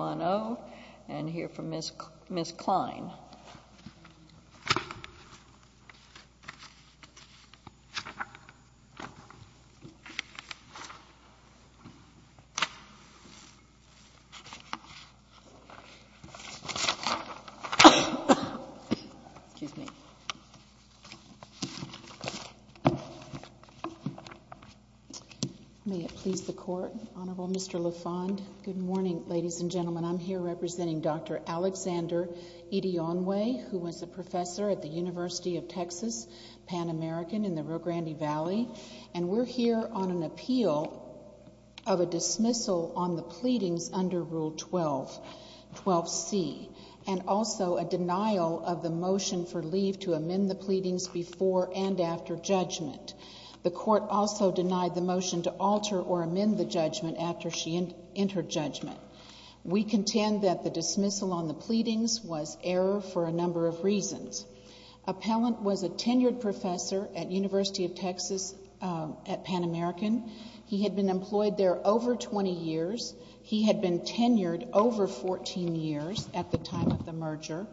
1-0 and hear from Ms. Kline. May it please the Court, Honorable Mr. LaFond. Good morning, ladies and gentlemen. I'm here representing Dr. Alexander Edionwe, who was a professor at the University of Texas, Pan American, in the Rio Grande Valley, and we're here on an appeal of a dismissal on the pleadings under Rule 12, 12c, and also a denial of the motion for leave to amend the pleadings before and after judgment. The Court also denied the motion to alter or amend the judgment after she entered judgment. We contend that the dismissal on the pleadings was error for a number of reasons. Appellant was a tenured professor at University of Texas at Pan American. He had been employed there over 20 years. He had been tenured over 14 years at the time of the merger.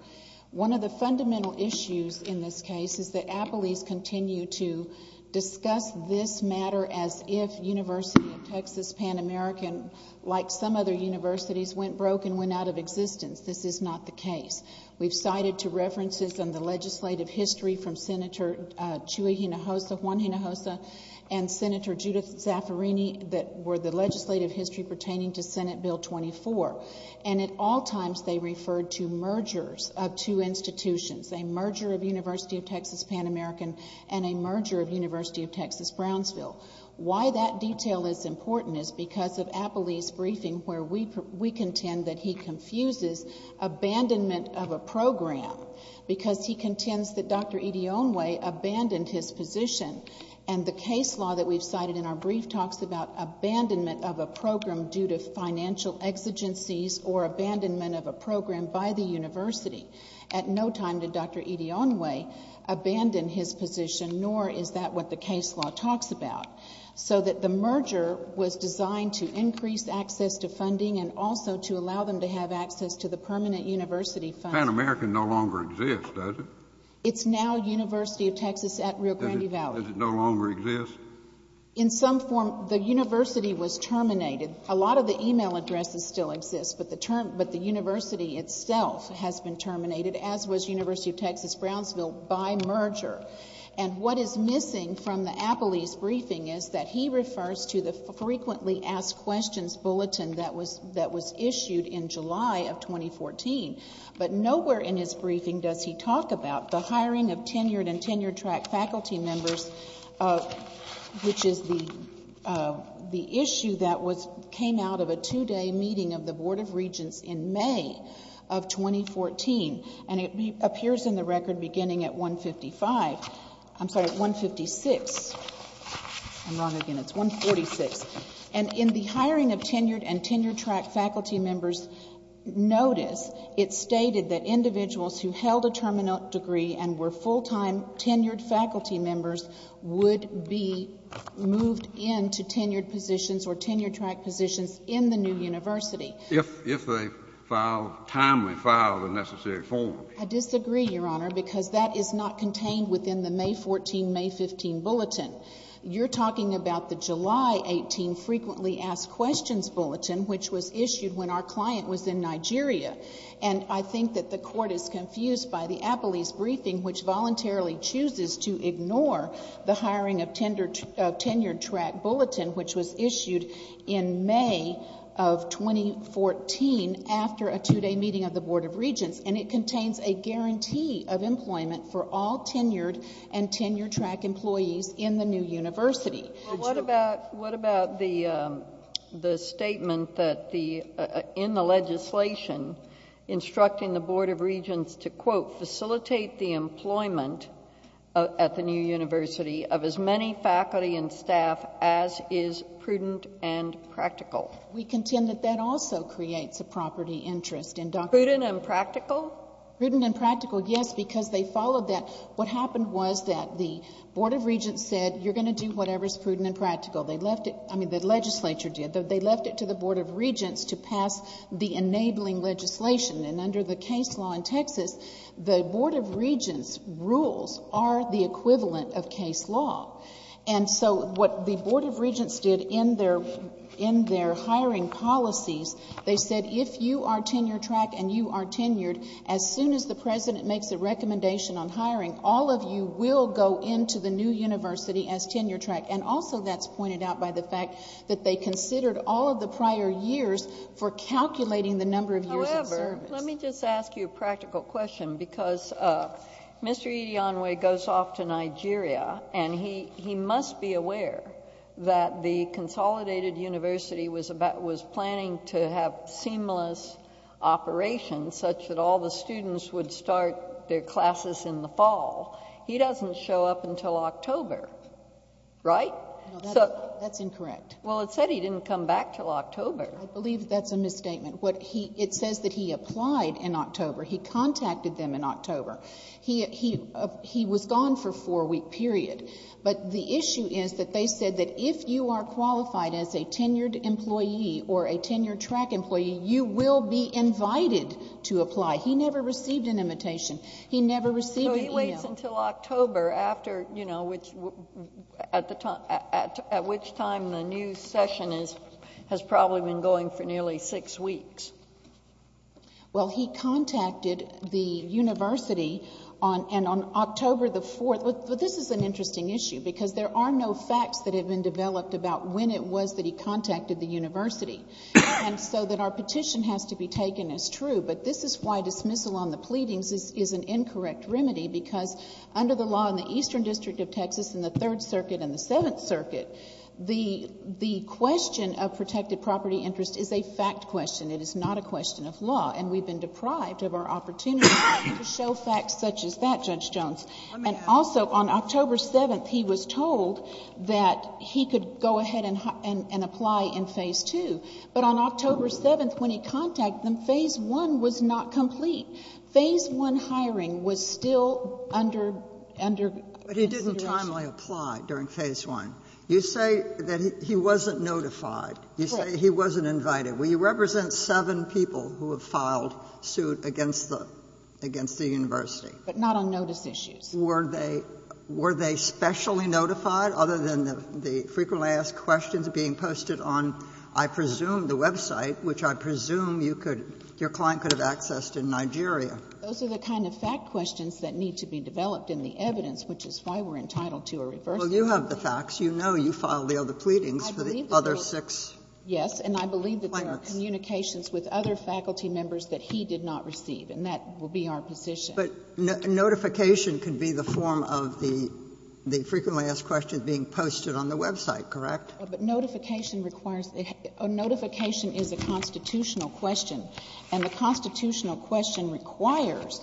One of the fundamental issues in this case is that appellees continue to discuss this matter as if University of Texas, Pan American, like some other universities, went broke and went out of existence. This is not the case. We've cited two references in the legislative history from Senator Chuy Hinojosa, Juan Hinojosa, and Senator Judith Zaffirini that were the legislative history pertaining to Senate Bill 24, and at all times they referred to mergers of two institutions, a merger of University of Texas, Pan American, and a merger of University of Texas, Brownsville. Why that detail is important is because of Appellee's briefing where we contend that he confuses abandonment of a program because he contends that Dr. Idionwe abandoned his position and the case law that we've cited in our brief talks about abandonment of a program by the university. At no time did Dr. Idionwe abandon his position, nor is that what the case law talks about. So that the merger was designed to increase access to funding and also to allow them to have access to the permanent university funding. Pan American no longer exists, does it? It's now University of Texas at Rio Grande Valley. Does it no longer exist? In some form, the university was terminated. A lot of the email addresses still exist, but the term, but the university itself has been terminated, as was University of Texas, Brownsville, by merger. And what is missing from the Appellee's briefing is that he refers to the frequently asked questions bulletin that was, that was issued in July of 2014. But nowhere in his briefing does he talk about the hiring of tenured and tenured track faculty members, which is the, the issue that was, came out of a two-day meeting of the Board of Regents in May of 2014. And it appears in the record beginning at 155, I'm sorry, at 156. I'm wrong again, it's 146. And in the hiring of tenured and tenured track faculty members notice, it stated that individuals who held a terminal degree and were full-time tenured faculty members would be moved into tenured positions or tenured track positions in the new university. If, if they file, timely file the necessary form. I disagree, Your Honor, because that is not contained within the May 14, May 15 bulletin. You're talking about the July 18 frequently asked questions bulletin, which was issued when our client was in Nigeria. And I think that the Court is confused by the Appellee's briefing, which voluntarily chooses to ignore the hiring of tenured, of tenured track bulletin, which was issued in May of 2014 after a two-day meeting of the Board of Regents. And it contains a guarantee of employment for all tenured and tenured track employees in the new university. Well, what about, what about the, the statement that the, in the legislation instructing the Board of Regents to, quote, facilitate the employment at the new university of as many faculty and staff as is prudent and practical? We contend that that also creates a property interest in Dr. Prudent and practical? Prudent and practical, yes, because they followed that. What happened was that the Board of Regents said, you're going to do whatever is prudent and practical. They left it, I mean, the legislature did. They left it to the Board of Regents to pass the enabling legislation. And under the case law in Texas, the Board of Regents' rules are the equivalent of case law. And so what the Board of Regents did in their, in their hiring policies, they said, if you are tenured track and you are tenured, as soon as the President makes a recommendation on hiring, all of you will go into the new university as tenured track. And also, that's pointed out by the fact that they considered all of the prior years for calculating the number of years of service. However, let me just ask you a practical question, because Mr. Idiyanwe goes off to Nigeria, and he, he must be aware that the consolidated university was about, was planning to have a seamless operation such that all the students would start their classes in the fall. He doesn't show up until October, right? No, that's, that's incorrect. Well, it said he didn't come back until October. I believe that's a misstatement. What he, it says that he applied in October. He contacted them in October. He, he, he was gone for a four-week period. But the issue is that they said that if you are qualified as a tenured employee or a tenured track employee, you will be invited to apply. He never received an invitation. He never received an email. So he waits until October after, you know, which, at the time, at which time the new session is, has probably been going for nearly six weeks. Well, he contacted the university on, and on October the 4th, but this is an interesting issue, because there are no facts that have been developed about when it was that he contacted the university. And so that our petition has to be taken as true. But this is why dismissal on the pleadings is an incorrect remedy, because under the law in the Eastern District of Texas in the Third Circuit and the Seventh Circuit, the, the question of protected property interest is a fact question. It is not a question of law. And we've been deprived of our opportunity to show facts such as that, Judge Jones. And also, on October 7th, he was told that he could go ahead and, and apply in Phase 2. But on October 7th, when he contacted them, Phase 1 was not complete. Phase 1 hiring was still under, under consideration. But he didn't timely apply during Phase 1. You say that he wasn't notified. You say he wasn't invited. Will you represent seven people who have filed suit against the, against the university? But not on notice issues. Were they, were they specially notified, other than the, the frequently asked questions being posted on, I presume, the website, which I presume you could, your client could have accessed in Nigeria? Those are the kind of fact questions that need to be developed in the evidence, which is why we're entitled to a reversal. Well, you have the facts. You know you filed the other pleadings for the other six. Yes, and I believe that there are communications with other faculty members that he did not receive. And that will be our position. But notification can be the form of the, the frequently asked questions being posted on the website, correct? But notification requires, notification is a constitutional question. And the constitutional question requires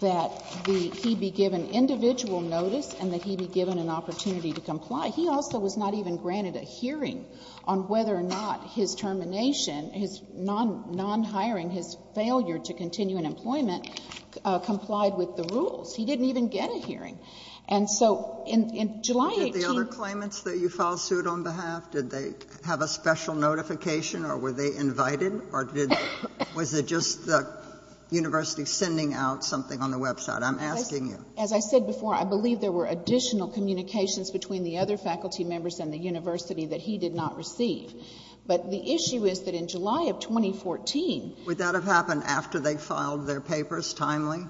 that the, he be given individual notice and that he be given an opportunity to comply. He also was not even granted a hearing on whether or not his termination, his non-hiring, his failure to continue in employment, complied with the rules. He didn't even get a hearing. And so, in, in July 18- Did the other claimants that you filed suit on behalf, did they have a special notification or were they invited or did, was it just the university sending out something on the website? I'm asking you. As I said before, I believe there were additional communications between the other faculty members and the university that he did not receive. But the issue is that in July of 2014- Would that have happened after they filed their papers, timely,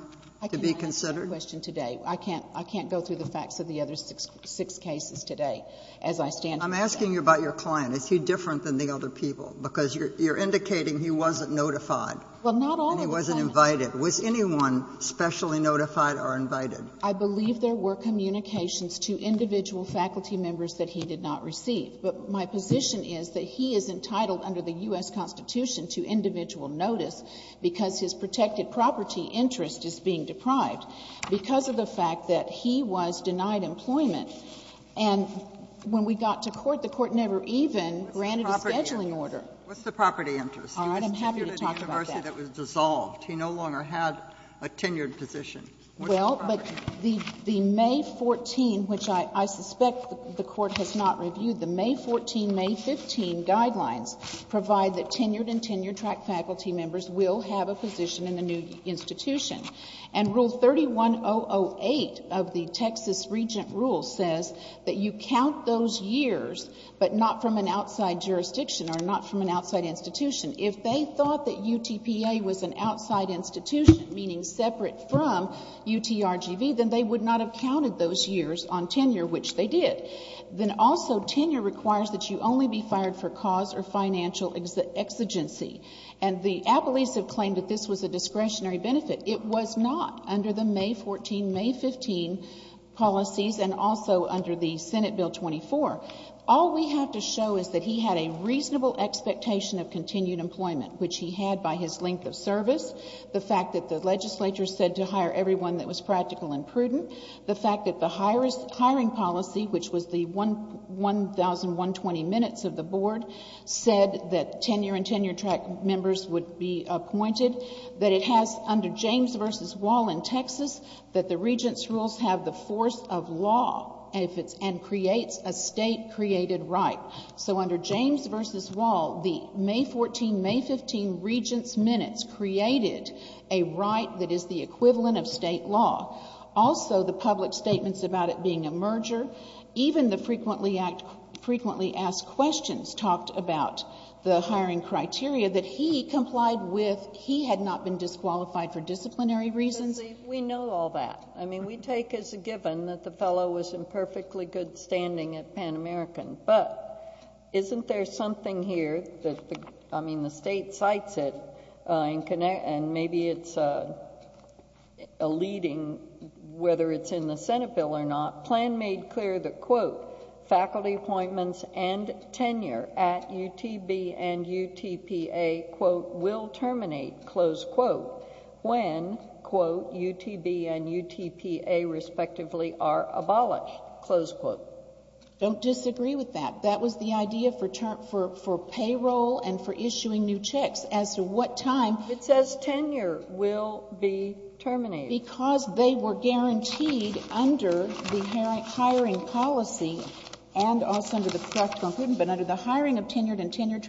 to be considered? I cannot answer that question today. I can't, I can't go through the facts of the other six, six cases today as I stand here. I'm asking you about your client. Is he different than the other people? Because you're, you're indicating he wasn't notified. Well, not all of the- And he wasn't invited. Was anyone specially notified or invited? I believe there were communications to individual faculty members that he did not receive. But my position is that he is entitled under the U.S. Constitution to individual notice because his protected property interest is being deprived because of the fact that he was denied employment. And when we got to court, the Court never even granted a scheduling order. What's the property interest? I'm happy to talk about that. He was tenured at a university that was dissolved. He no longer had a tenured position. And rule 31008 of the Texas Regent Rule says that you count those years, but not from an outside jurisdiction or not from an outside institution. If they thought that UTPA was an outside institution, meaning separate from UTRGV, then they would not have counted those years on tenure, which they did. Then also, tenure requires that you only be fired for cause or financial exigency. And the appellees have claimed that this was a discretionary benefit. It was not under the May 14, May 15 policies and also under the Senate Bill 24. All we have to show is that he had a reasonable expectation of continued employment, which he had by his length of service, the fact that the legislature said to hire everyone that was practical and prudent, the fact that the hiring policy, which was the 1,120 minutes of the board, said that tenure and tenure-track members would be appointed, that it has, under James v. Wall in Texas, that the Regents' rules have the force of law and creates a State-created right. So under James v. Wall, the May 14, May 15 Regents' minutes created a right that is the force of law. Also, the public statements about it being a merger, even the frequently asked questions talked about the hiring criteria that he complied with. He had not been disqualified for disciplinary reasons. We know all that. I mean, we take as a given that the fellow was in perfectly good standing at Pan American. But isn't there something here that, I mean, the State cites it, and maybe it's a leading, whether it's in the Senate bill or not, plan made clear that, quote, faculty appointments and tenure at UTB and UTPA, quote, will terminate, close quote, when, quote, UTB and UTPA respectively are abolished, close quote. Don't disagree with that. That was the idea for payroll and for issuing new checks as to what time. It says tenure will be terminated. Because they were guaranteed under the hiring policy and also under the draft conclusion, but under the hiring of tenured and tenured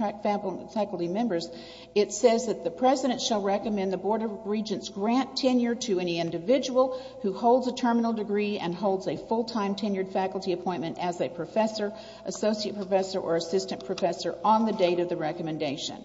faculty members, it says that the President shall recommend the Board of Regents grant tenure to any individual who holds a terminal degree and holds a full-time tenured faculty appointment as a professor, associate professor, or assistant professor on the date of the recommendation.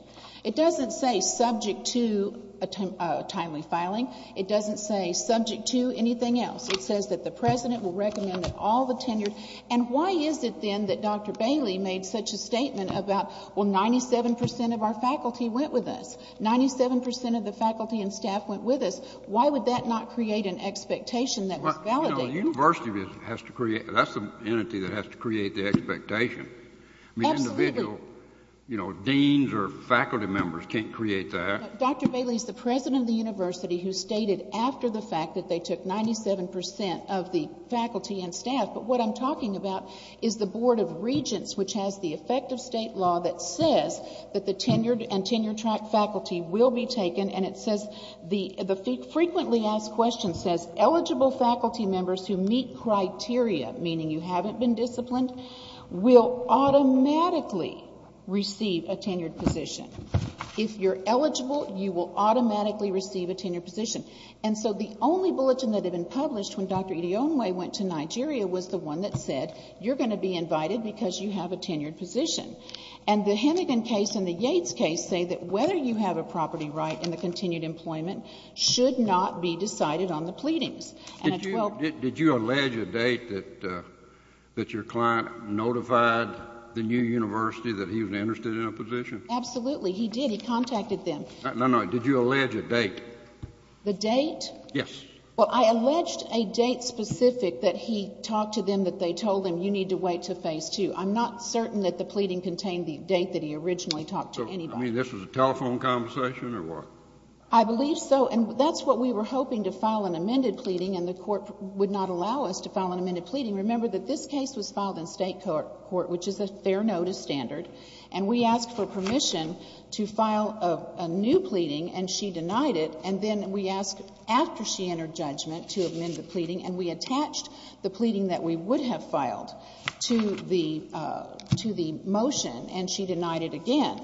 It doesn't say subject to a timely filing. It doesn't say subject to anything else. It says that the President will recommend that all the tenured, and why is it then that Dr. Bailey made such a statement about, well, 97% of our faculty went with us? 97% of the faculty and staff went with us? Why would that not create an expectation that was validated? Well, you know, the university has to create, that's the entity that has to create the expectation. Absolutely. I mean, individual, you know, deans or faculty members can't create that. Dr. Bailey is the President of the university who stated after the fact that they took 97% of the faculty and staff, but what I'm talking about is the Board of Regents, which has the effective state law that says that the tenured and tenured faculty will be taken, and it frequently asked questions says eligible faculty members who meet criteria, meaning you haven't been disciplined, will automatically receive a tenured position. If you're eligible, you will automatically receive a tenured position. And so the only bulletin that had been published when Dr. Idionwe went to Nigeria was the one that said you're going to be invited because you have a tenured position. And the Hennigan case and the Yates case say that whether you have a property right in terms of continued employment should not be decided on the pleadings. Did you allege a date that your client notified the new university that he was interested in a position? Absolutely. He did. He contacted them. No, no. Did you allege a date? The date? Yes. Well, I alleged a date specific that he talked to them that they told him you need to wait to Phase II. I'm not certain that the pleading contained the date that he originally talked to anybody. I mean, this was a telephone conversation or what? I believe so. And that's what we were hoping to file an amended pleading, and the Court would not allow us to file an amended pleading. Remember that this case was filed in State court, which is a fair notice standard. And we asked for permission to file a new pleading, and she denied it. And then we asked after she entered judgment to amend the pleading, and we attached the pleading that we would have filed to the motion, and she denied it again.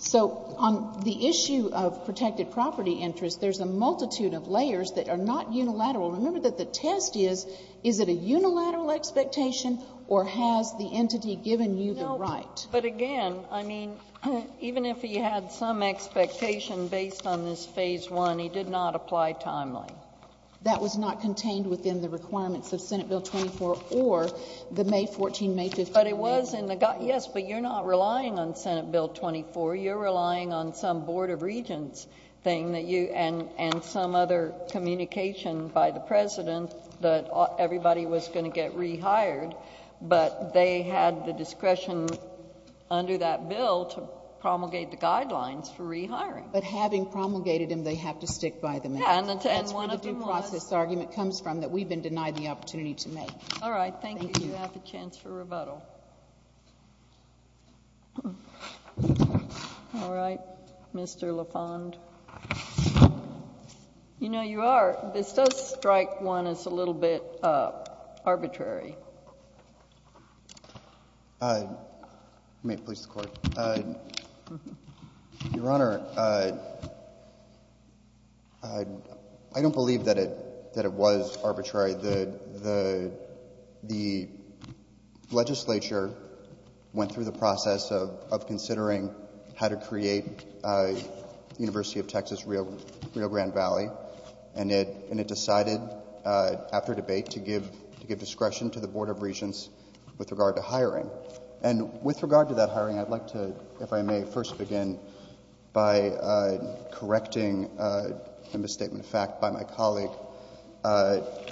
So on the issue of protected property interest, there's a multitude of layers that are not unilateral. Remember that the test is, is it a unilateral expectation or has the entity given you the right? No, but again, I mean, even if he had some expectation based on this Phase I, he did not apply timely. That was not contained within the requirements of Senate Bill 24 or the May 14, May 15 amendments. But it was in the, yes, but you're not relying on Senate Bill 24. You're relying on some Board of Regents thing that you, and, and some other communication by the President that everybody was going to get rehired, but they had the discretion under that bill to promulgate the guidelines for rehiring. But having promulgated them, they have to stick by them. Yeah, and one of them was... That's where the due process argument comes from, that we've been denied the opportunity to make. All right. Thank you. Thank you. Thank you. You have the chance for rebuttal. All right. Mr. LaFond. You know, you are, this does strike one as a little bit arbitrary. May it please the Court. Your Honor, I don't believe that it, that it was arbitrary. The, the, the legislature went through the process of, of considering how to create University of Texas Rio, Rio Grande Valley, and it, and it decided after debate to give, to give discretion to the Board of Regents with regard to hiring. And with regard to that hiring, I'd like to, if I may, first begin by correcting a misstatement made, in fact, by my colleague.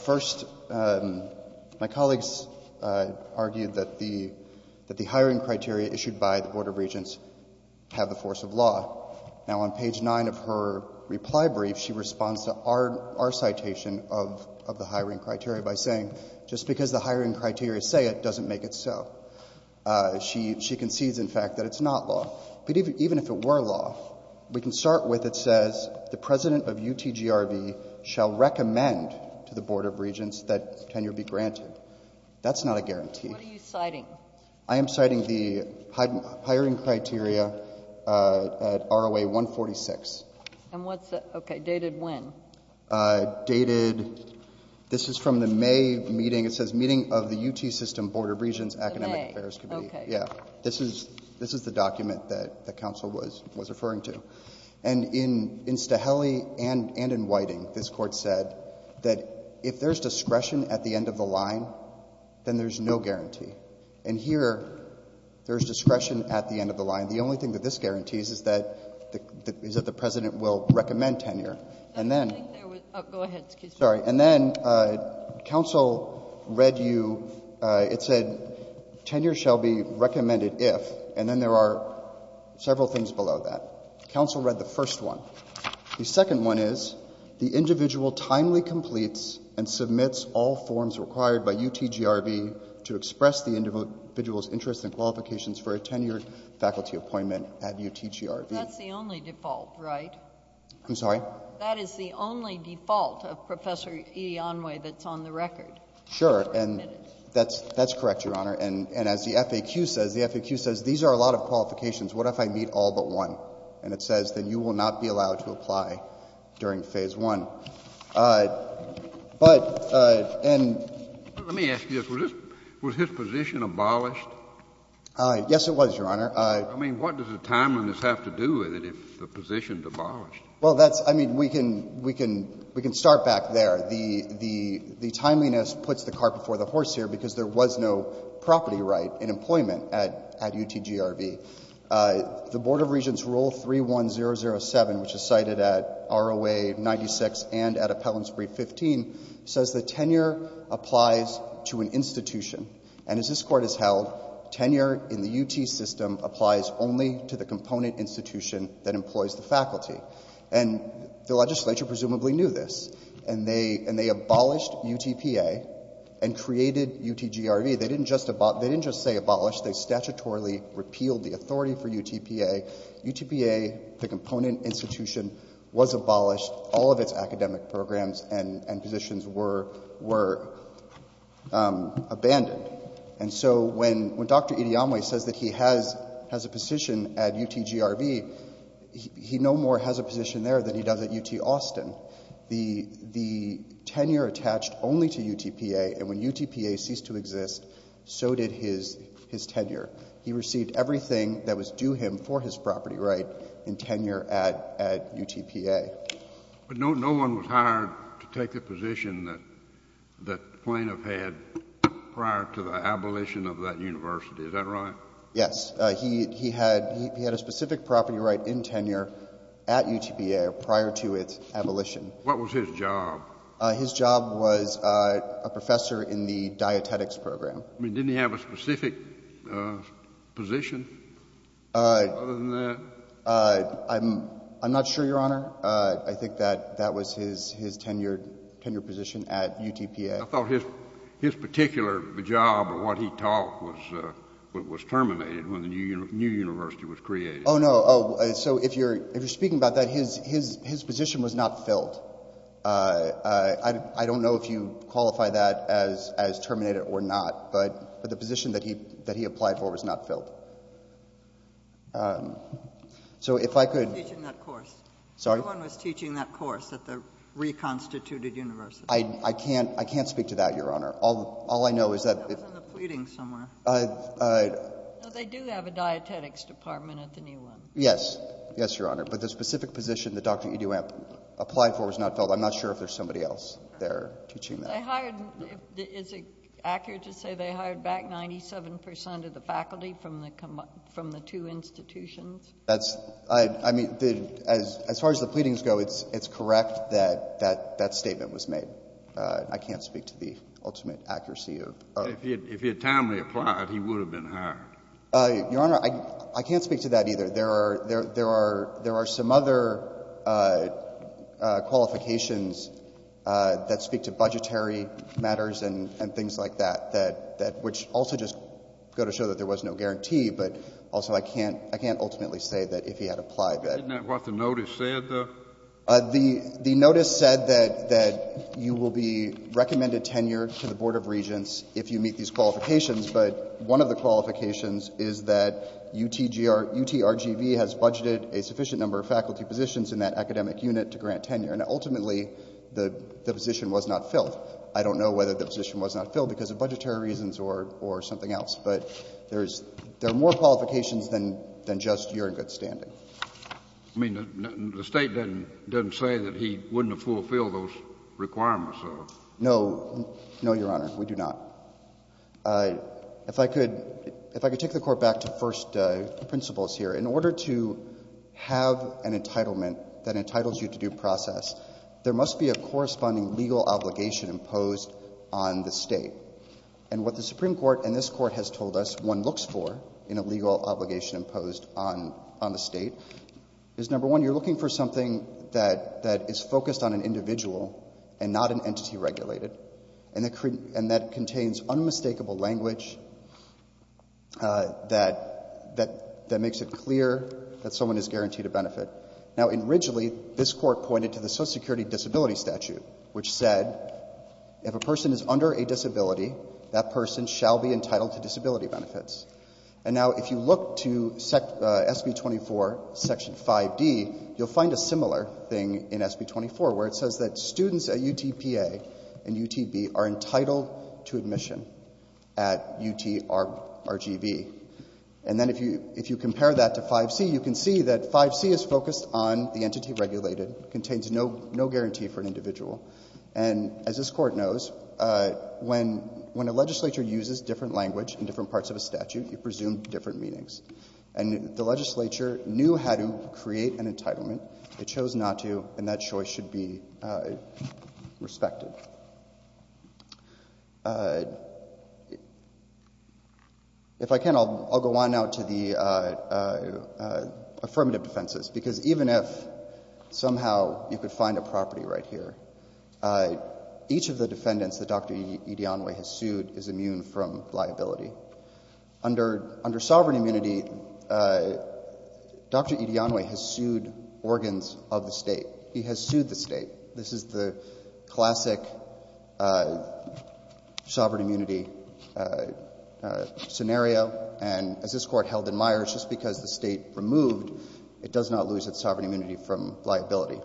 First, my colleague's argued that the, that the hiring criteria issued by the Board of Regents have the force of law. Now, on page 9 of her reply brief, she responds to our, our citation of, of the hiring criteria by saying, just because the hiring criteria say it, doesn't make it so. She, she concedes, in fact, that it's not law. But even, even if it were law, we can start with, it says, the President of UTGRB shall recommend to the Board of Regents that tenure be granted. That's not a guarantee. What are you citing? I am citing the hiring criteria at ROA 146. And what's the, okay, dated when? Dated, this is from the May meeting. It says meeting of the UT System Board of Regents Academic Affairs Committee. The May, okay. Yeah. This is, this is the document that, that counsel was, was referring to. And in, in Staheli and, and in Whiting, this Court said that if there's discretion at the end of the line, then there's no guarantee. And here, there's discretion at the end of the line. The only thing that this guarantees is that, is that the President will recommend tenure. I think there was, oh, go ahead, excuse me. Sorry. And then counsel read you, it said tenure shall be recommended if, and then there are several things below that. Counsel read the first one. The second one is the individual timely completes and submits all forms required by UTGRB to express the individual's interest and qualifications for a tenured faculty appointment at UTGRB. That's the only default, right? I'm sorry? That is the only default of Professor Edionway that's on the record. Sure. And that's, that's correct, Your Honor. And, and as the FAQ says, the FAQ says these are a lot of qualifications. What if I meet all but one? And it says that you will not be allowed to apply during Phase I. But, and. Let me ask you this. Was this, was his position abolished? Yes, it was, Your Honor. I mean, what does the timeliness have to do with it if the position's abolished? Well, that's, I mean, we can, we can, we can start back there. The, the, the timeliness puts the car before the horse here because there was no property right in employment at, at UTGRB. The Board of Regents Rule 31007, which is cited at ROA 96 and at Appellants Brief 15, says that tenure applies to an institution. And as this Court has held, tenure in the UT system applies only to the component institution that employs the faculty. And the legislature presumably knew this. And they, and they abolished UTPA and created UTGRB. They didn't just, they didn't just say abolished. They statutorily repealed the authority for UTPA. UTPA, the component institution, was abolished. All of its academic programs and, and positions were, were abandoned. And so when, when Dr. Idiyamwe says that he has, has a position at UTGRB, he no more has a position there than he does at UT Austin. The, the tenure attached only to UTPA. And when UTPA ceased to exist, so did his, his tenure. He received everything that was due him for his property right in tenure at, at UTPA. But no, no one was hired to take the position that, that the plaintiff had prior to the abolition of that university. Is that right? Yes. He, he had, he had a specific property right in tenure at UTPA prior to its abolition. What was his job? His job was a professor in the dietetics program. I mean, didn't he have a specific position other than that? I'm, I'm not sure, Your Honor. I think that, that was his, his tenure, tenure position at UTPA. I thought his, his particular job or what he taught was, was terminated when the new, new university was created. Oh, no. So if you're, if you're speaking about that, his, his, his position was not filled. I don't know if you qualify that as, as terminated or not, but the position that he, that he applied for was not filled. So if I could. No one was teaching that course. Sorry? No one was teaching that course at the reconstituted university. I, I can't, I can't speak to that, Your Honor. All, all I know is that. That was in the pleadings somewhere. I, I. No, they do have a dietetics department at the new one. Yes. Yes, Your Honor. But the specific position that Dr. Edewamp applied for was not filled. I'm not sure if there's somebody else there teaching that. They hired, is it accurate to say they hired back 97% of the faculty from the, from the two institutions? That's, I, I mean, the, as, as far as the pleadings go, it's, it's correct that, that, that statement was made. I can't speak to the ultimate accuracy of. If he had, if he had timely applied, he would have been hired. Your Honor, I, I can't speak to that either. There are, there are, there are some other qualifications that speak to budgetary matters and, and things like that, that, that, which also just go to show that there Isn't that what the notice said though? The, the notice said that, that you will be recommended tenure to the Board of Regents if you meet these qualifications. But one of the qualifications is that UTGR, UTRGV has budgeted a sufficient number of faculty positions in that academic unit to grant tenure. And ultimately the, the position was not filled. I don't know whether the position was not filled because of budgetary reasons or, or something else. But there's, there are more qualifications than, than just you're in good standing. I mean, the, the State doesn't, doesn't say that he wouldn't have fulfilled those requirements. No, no, Your Honor. We do not. If I could, if I could take the Court back to first principles here. In order to have an entitlement that entitles you to due process, there must be a corresponding legal obligation imposed on the State. And what the Supreme Court and this Court has told us one looks for in a legal obligation imposed on, on the State, is number one, you're looking for something that, that is focused on an individual and not an entity regulated. And that contains unmistakable language that, that, that makes it clear that someone is guaranteed a benefit. Now, originally this Court pointed to the Social Security Disability Statute, which said if a person is under a disability, that person shall be entitled to disability benefits. And now if you look to SB 24, Section 5D, you'll find a similar thing in SB 24, where it says that students at UTPA and UTB are entitled to admission at UTRGV. And then if you, if you compare that to 5C, you can see that 5C is focused on the entity regulated, contains no, no guarantee for an individual. And as this Court knows, when, when a legislature uses different language in different parts of a statute, you presume different meanings. And the legislature knew how to create an entitlement. It chose not to, and that choice should be respected. If I can, I'll, I'll go on now to the affirmative defenses, because even if somehow you could find a property right here, each of the defendants that Dr. Edianwe has sued is immune from liability. Under, under sovereign immunity, Dr. Edianwe has sued organs of the state. He has sued the state. This is the classic sovereign immunity scenario. And as this Court held in Myers, just because the state removed, it does not lose its sovereign immunity from liability.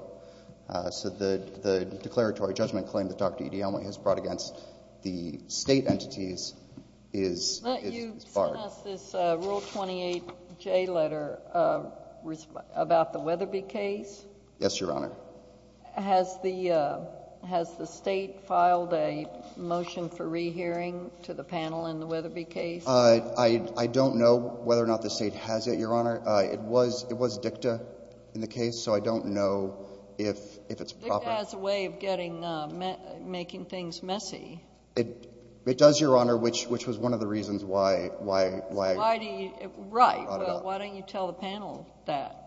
So the, the declaratory judgment claim that Dr. Edianwe has brought against the State entities is, is barred. But you sent us this Rule 28J letter about the Weatherby case. Yes, Your Honor. Has the, has the State filed a motion for rehearing to the panel in the Weatherby case? I, I don't know whether or not the State has it, Your Honor. It was, it was dicta in the case, so I don't know if, if it's proper. Dicta has a way of getting, making things messy. It, it does, Your Honor, which, which was one of the reasons why, why, why. Why do you, right. Why don't you tell the panel that?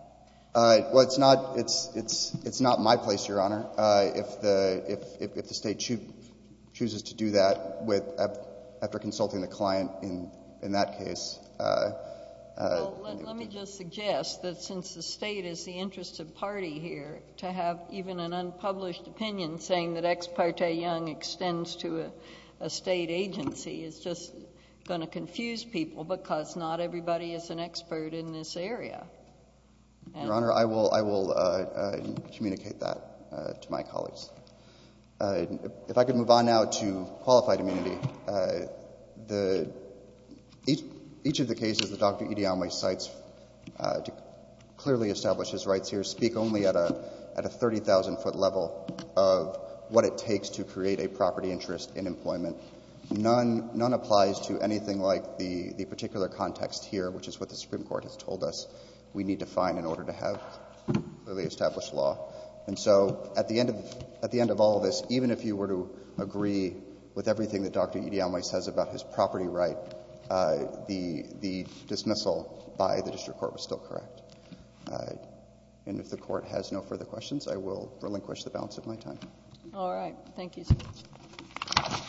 Well, it's not, it's, it's, it's not my place, Your Honor. If the, if, if the State chooses to do that with, after consulting the client in, in that case. Well, let me just suggest that since the State is the interested party here, to have even an unpublished opinion saying that Ex parte Young extends to a State agency is just going to confuse people because not everybody is an expert in this area. Your Honor, I will, I will communicate that to my colleagues. If I could move on now to qualified immunity. The, each, each of the cases that Dr. Idiomwe cites to clearly establish his rights here speak only at a, at a 30,000 foot level of what it takes to create a property interest in employment. None, none applies to anything like the, the particular context here, which is what the Supreme Court has told us we need to find in order to have clearly established law. And so at the end of, at the end of all of this, even if you were to agree with everything that Dr. Idiomwe says about his property right, the, the dismissal by the district court was still correct. And if the court has no further questions, I will relinquish the balance of my time. All right. Thank you. Thank you.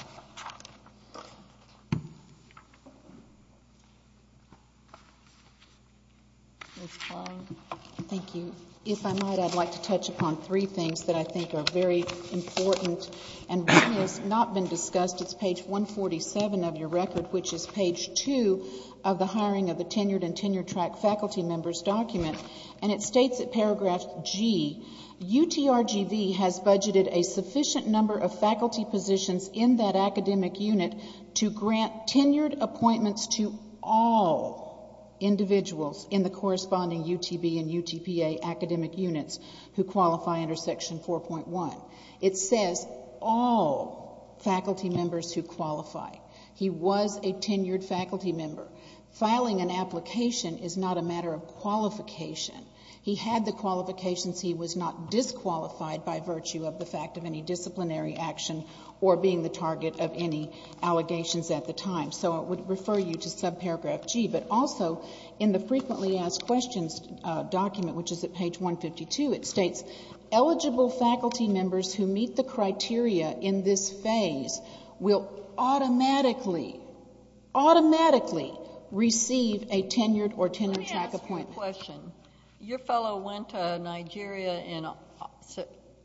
Thank you. If I might, I'd like to touch upon three things that I think are very important and one has not been discussed. It's page 147 of your record, which is page two of the hiring of the tenured and tenured track faculty member's document. And it states in paragraph G, UTRGV has budgeted a sufficient number of faculty positions in that academic unit to grant tenured appointments to all individuals in the corresponding UTB and UTPA academic units who qualify under section 4.1. It says all faculty members who qualify. He was a tenured faculty member. Filing an application is not a matter of qualification. He had the qualifications. He was not disqualified by virtue of the fact of any disciplinary action or being the target of any allegations at the time. So I would refer you to subparagraph G. But also in the frequently asked questions document, which is at page 152, it states eligible faculty members who meet the criteria in this phase will automatically, automatically receive a tenured or tenured track appointment. Let me ask you a question. Your fellow went to Nigeria in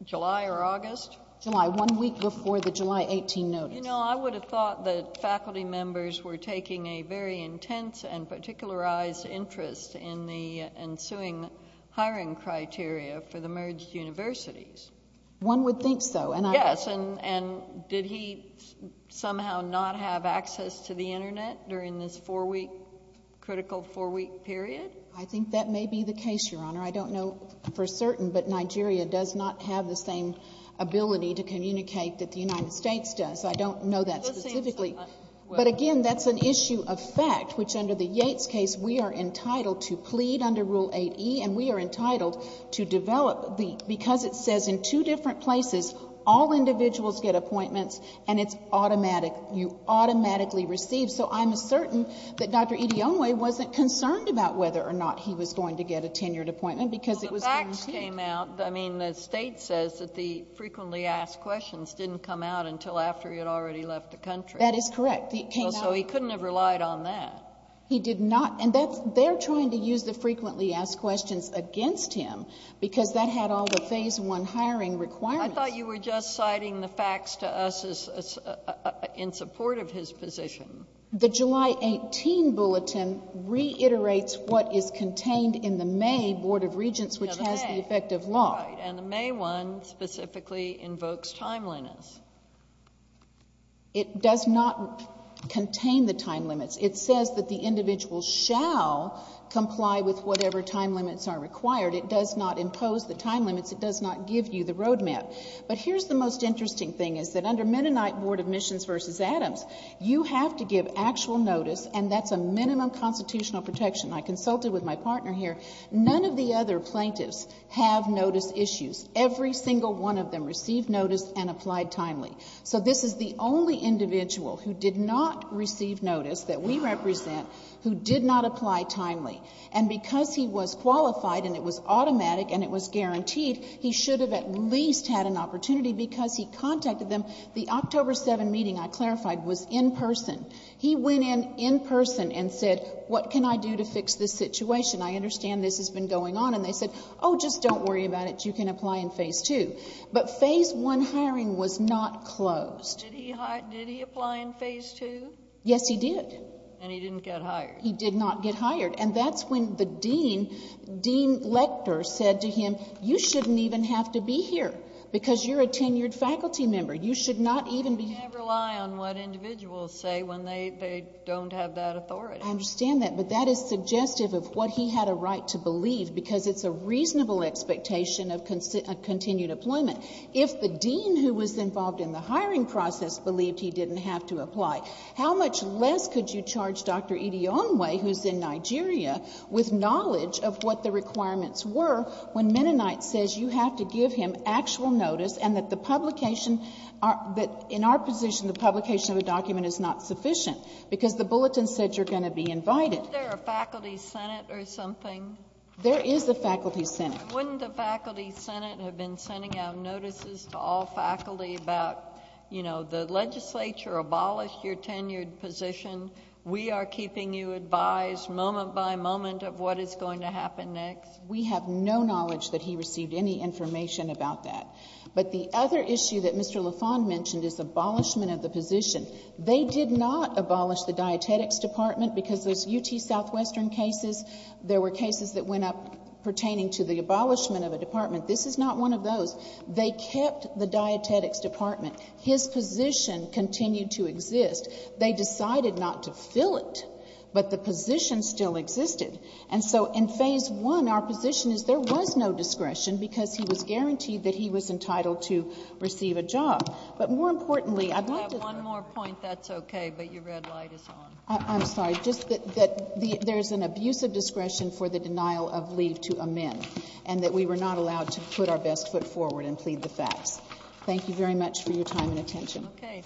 July or August? July, one week before the July 18 notice. You know, I would have thought that faculty members were taking a very intense and particularized interest in the ensuing hiring criteria for the merged universities. One would think so. Yes. And did he somehow not have access to the Internet during this four-week, critical four-week period? I think that may be the case, Your Honor. I don't know for certain, but Nigeria does not have the same ability to communicate that the United States does. I don't know that specifically. But again, that's an issue of fact, which under the Yates case we are entitled to plead under Rule 8e and we are entitled to develop because it says in two different places all individuals get appointments and it's automatic. You automatically receive. So I'm certain that Dr. Idiomwe wasn't concerned about whether or not he was going to get a tenured appointment because it was guaranteed. Well, the facts came out. I mean, the State says that the frequently asked questions didn't come out until after he had already left the country. That is correct. So he couldn't have relied on that. He did not. And they're trying to use the frequently asked questions against him because that had all the Phase I hiring requirements. I thought you were just citing the facts to us in support of his position. The July 18 Bulletin reiterates what is contained in the May Board of Regents, which has the effect of law. And the May one specifically invokes timeliness. It does not contain the time limits. It says that the individual shall comply with whatever time limits are required. It does not impose the time limits. It does not give you the roadmap. But here's the most interesting thing, is that under Mennonite Board of Missions v. Adams, you have to give actual notice, and that's a minimum constitutional protection. I consulted with my partner here. None of the other plaintiffs have notice issues. Every single one of them received notice and applied timely. So this is the only individual who did not receive notice that we represent who did not apply timely. And because he was qualified and it was automatic and it was guaranteed, he should have at least had an opportunity because he contacted them. The October 7 meeting, I clarified, was in person. He went in in person and said, what can I do to fix this situation? I understand this has been going on. And they said, oh, just don't worry about it. You can apply in Phase II. But Phase I hiring was not closed. Did he apply in Phase II? Yes, he did. And he didn't get hired? He did not get hired. And that's when the dean, Dean Lecter, said to him, you shouldn't even have to be here because you're a tenured faculty member. You should not even be here. You can't rely on what individuals say when they don't have that authority. I understand that, but that is suggestive of what he had a right to believe because it's a reasonable expectation of continued employment. If the dean who was involved in the hiring process believed he didn't have to apply, how much less could you charge Dr. Idionwe, who's in Nigeria, with knowledge of what the requirements were when Mennonite says you have to give him actual notice and that the publication, that in our position the publication of a document is not sufficient because the bulletin said you're going to be invited. Isn't there a faculty senate or something? There is a faculty senate. Wouldn't the faculty senate have been sending out notices to all faculty about, you know, the legislature abolished your tenured position. We are keeping you advised moment by moment of what is going to happen next. We have no knowledge that he received any information about that. But the other issue that Mr. LaFond mentioned is abolishment of the position. They did not abolish the dietetics department because there's UT Southwestern cases. There were cases that went up pertaining to the abolishment of a department. This is not one of those. They kept the dietetics department. His position continued to exist. They decided not to fill it, but the position still existed. And so in Phase I, our position is there was no discretion because he was guaranteed that he was entitled to receive a job. But more importantly, I'd like to... You have one more point. That's okay, but your red light is on. I'm sorry. Just that there's an abuse of discretion for the denial of leave to amend and that we were not allowed to put our best foot forward and plead the facts. Thank you very much for your time and attention. Okay. Thank you.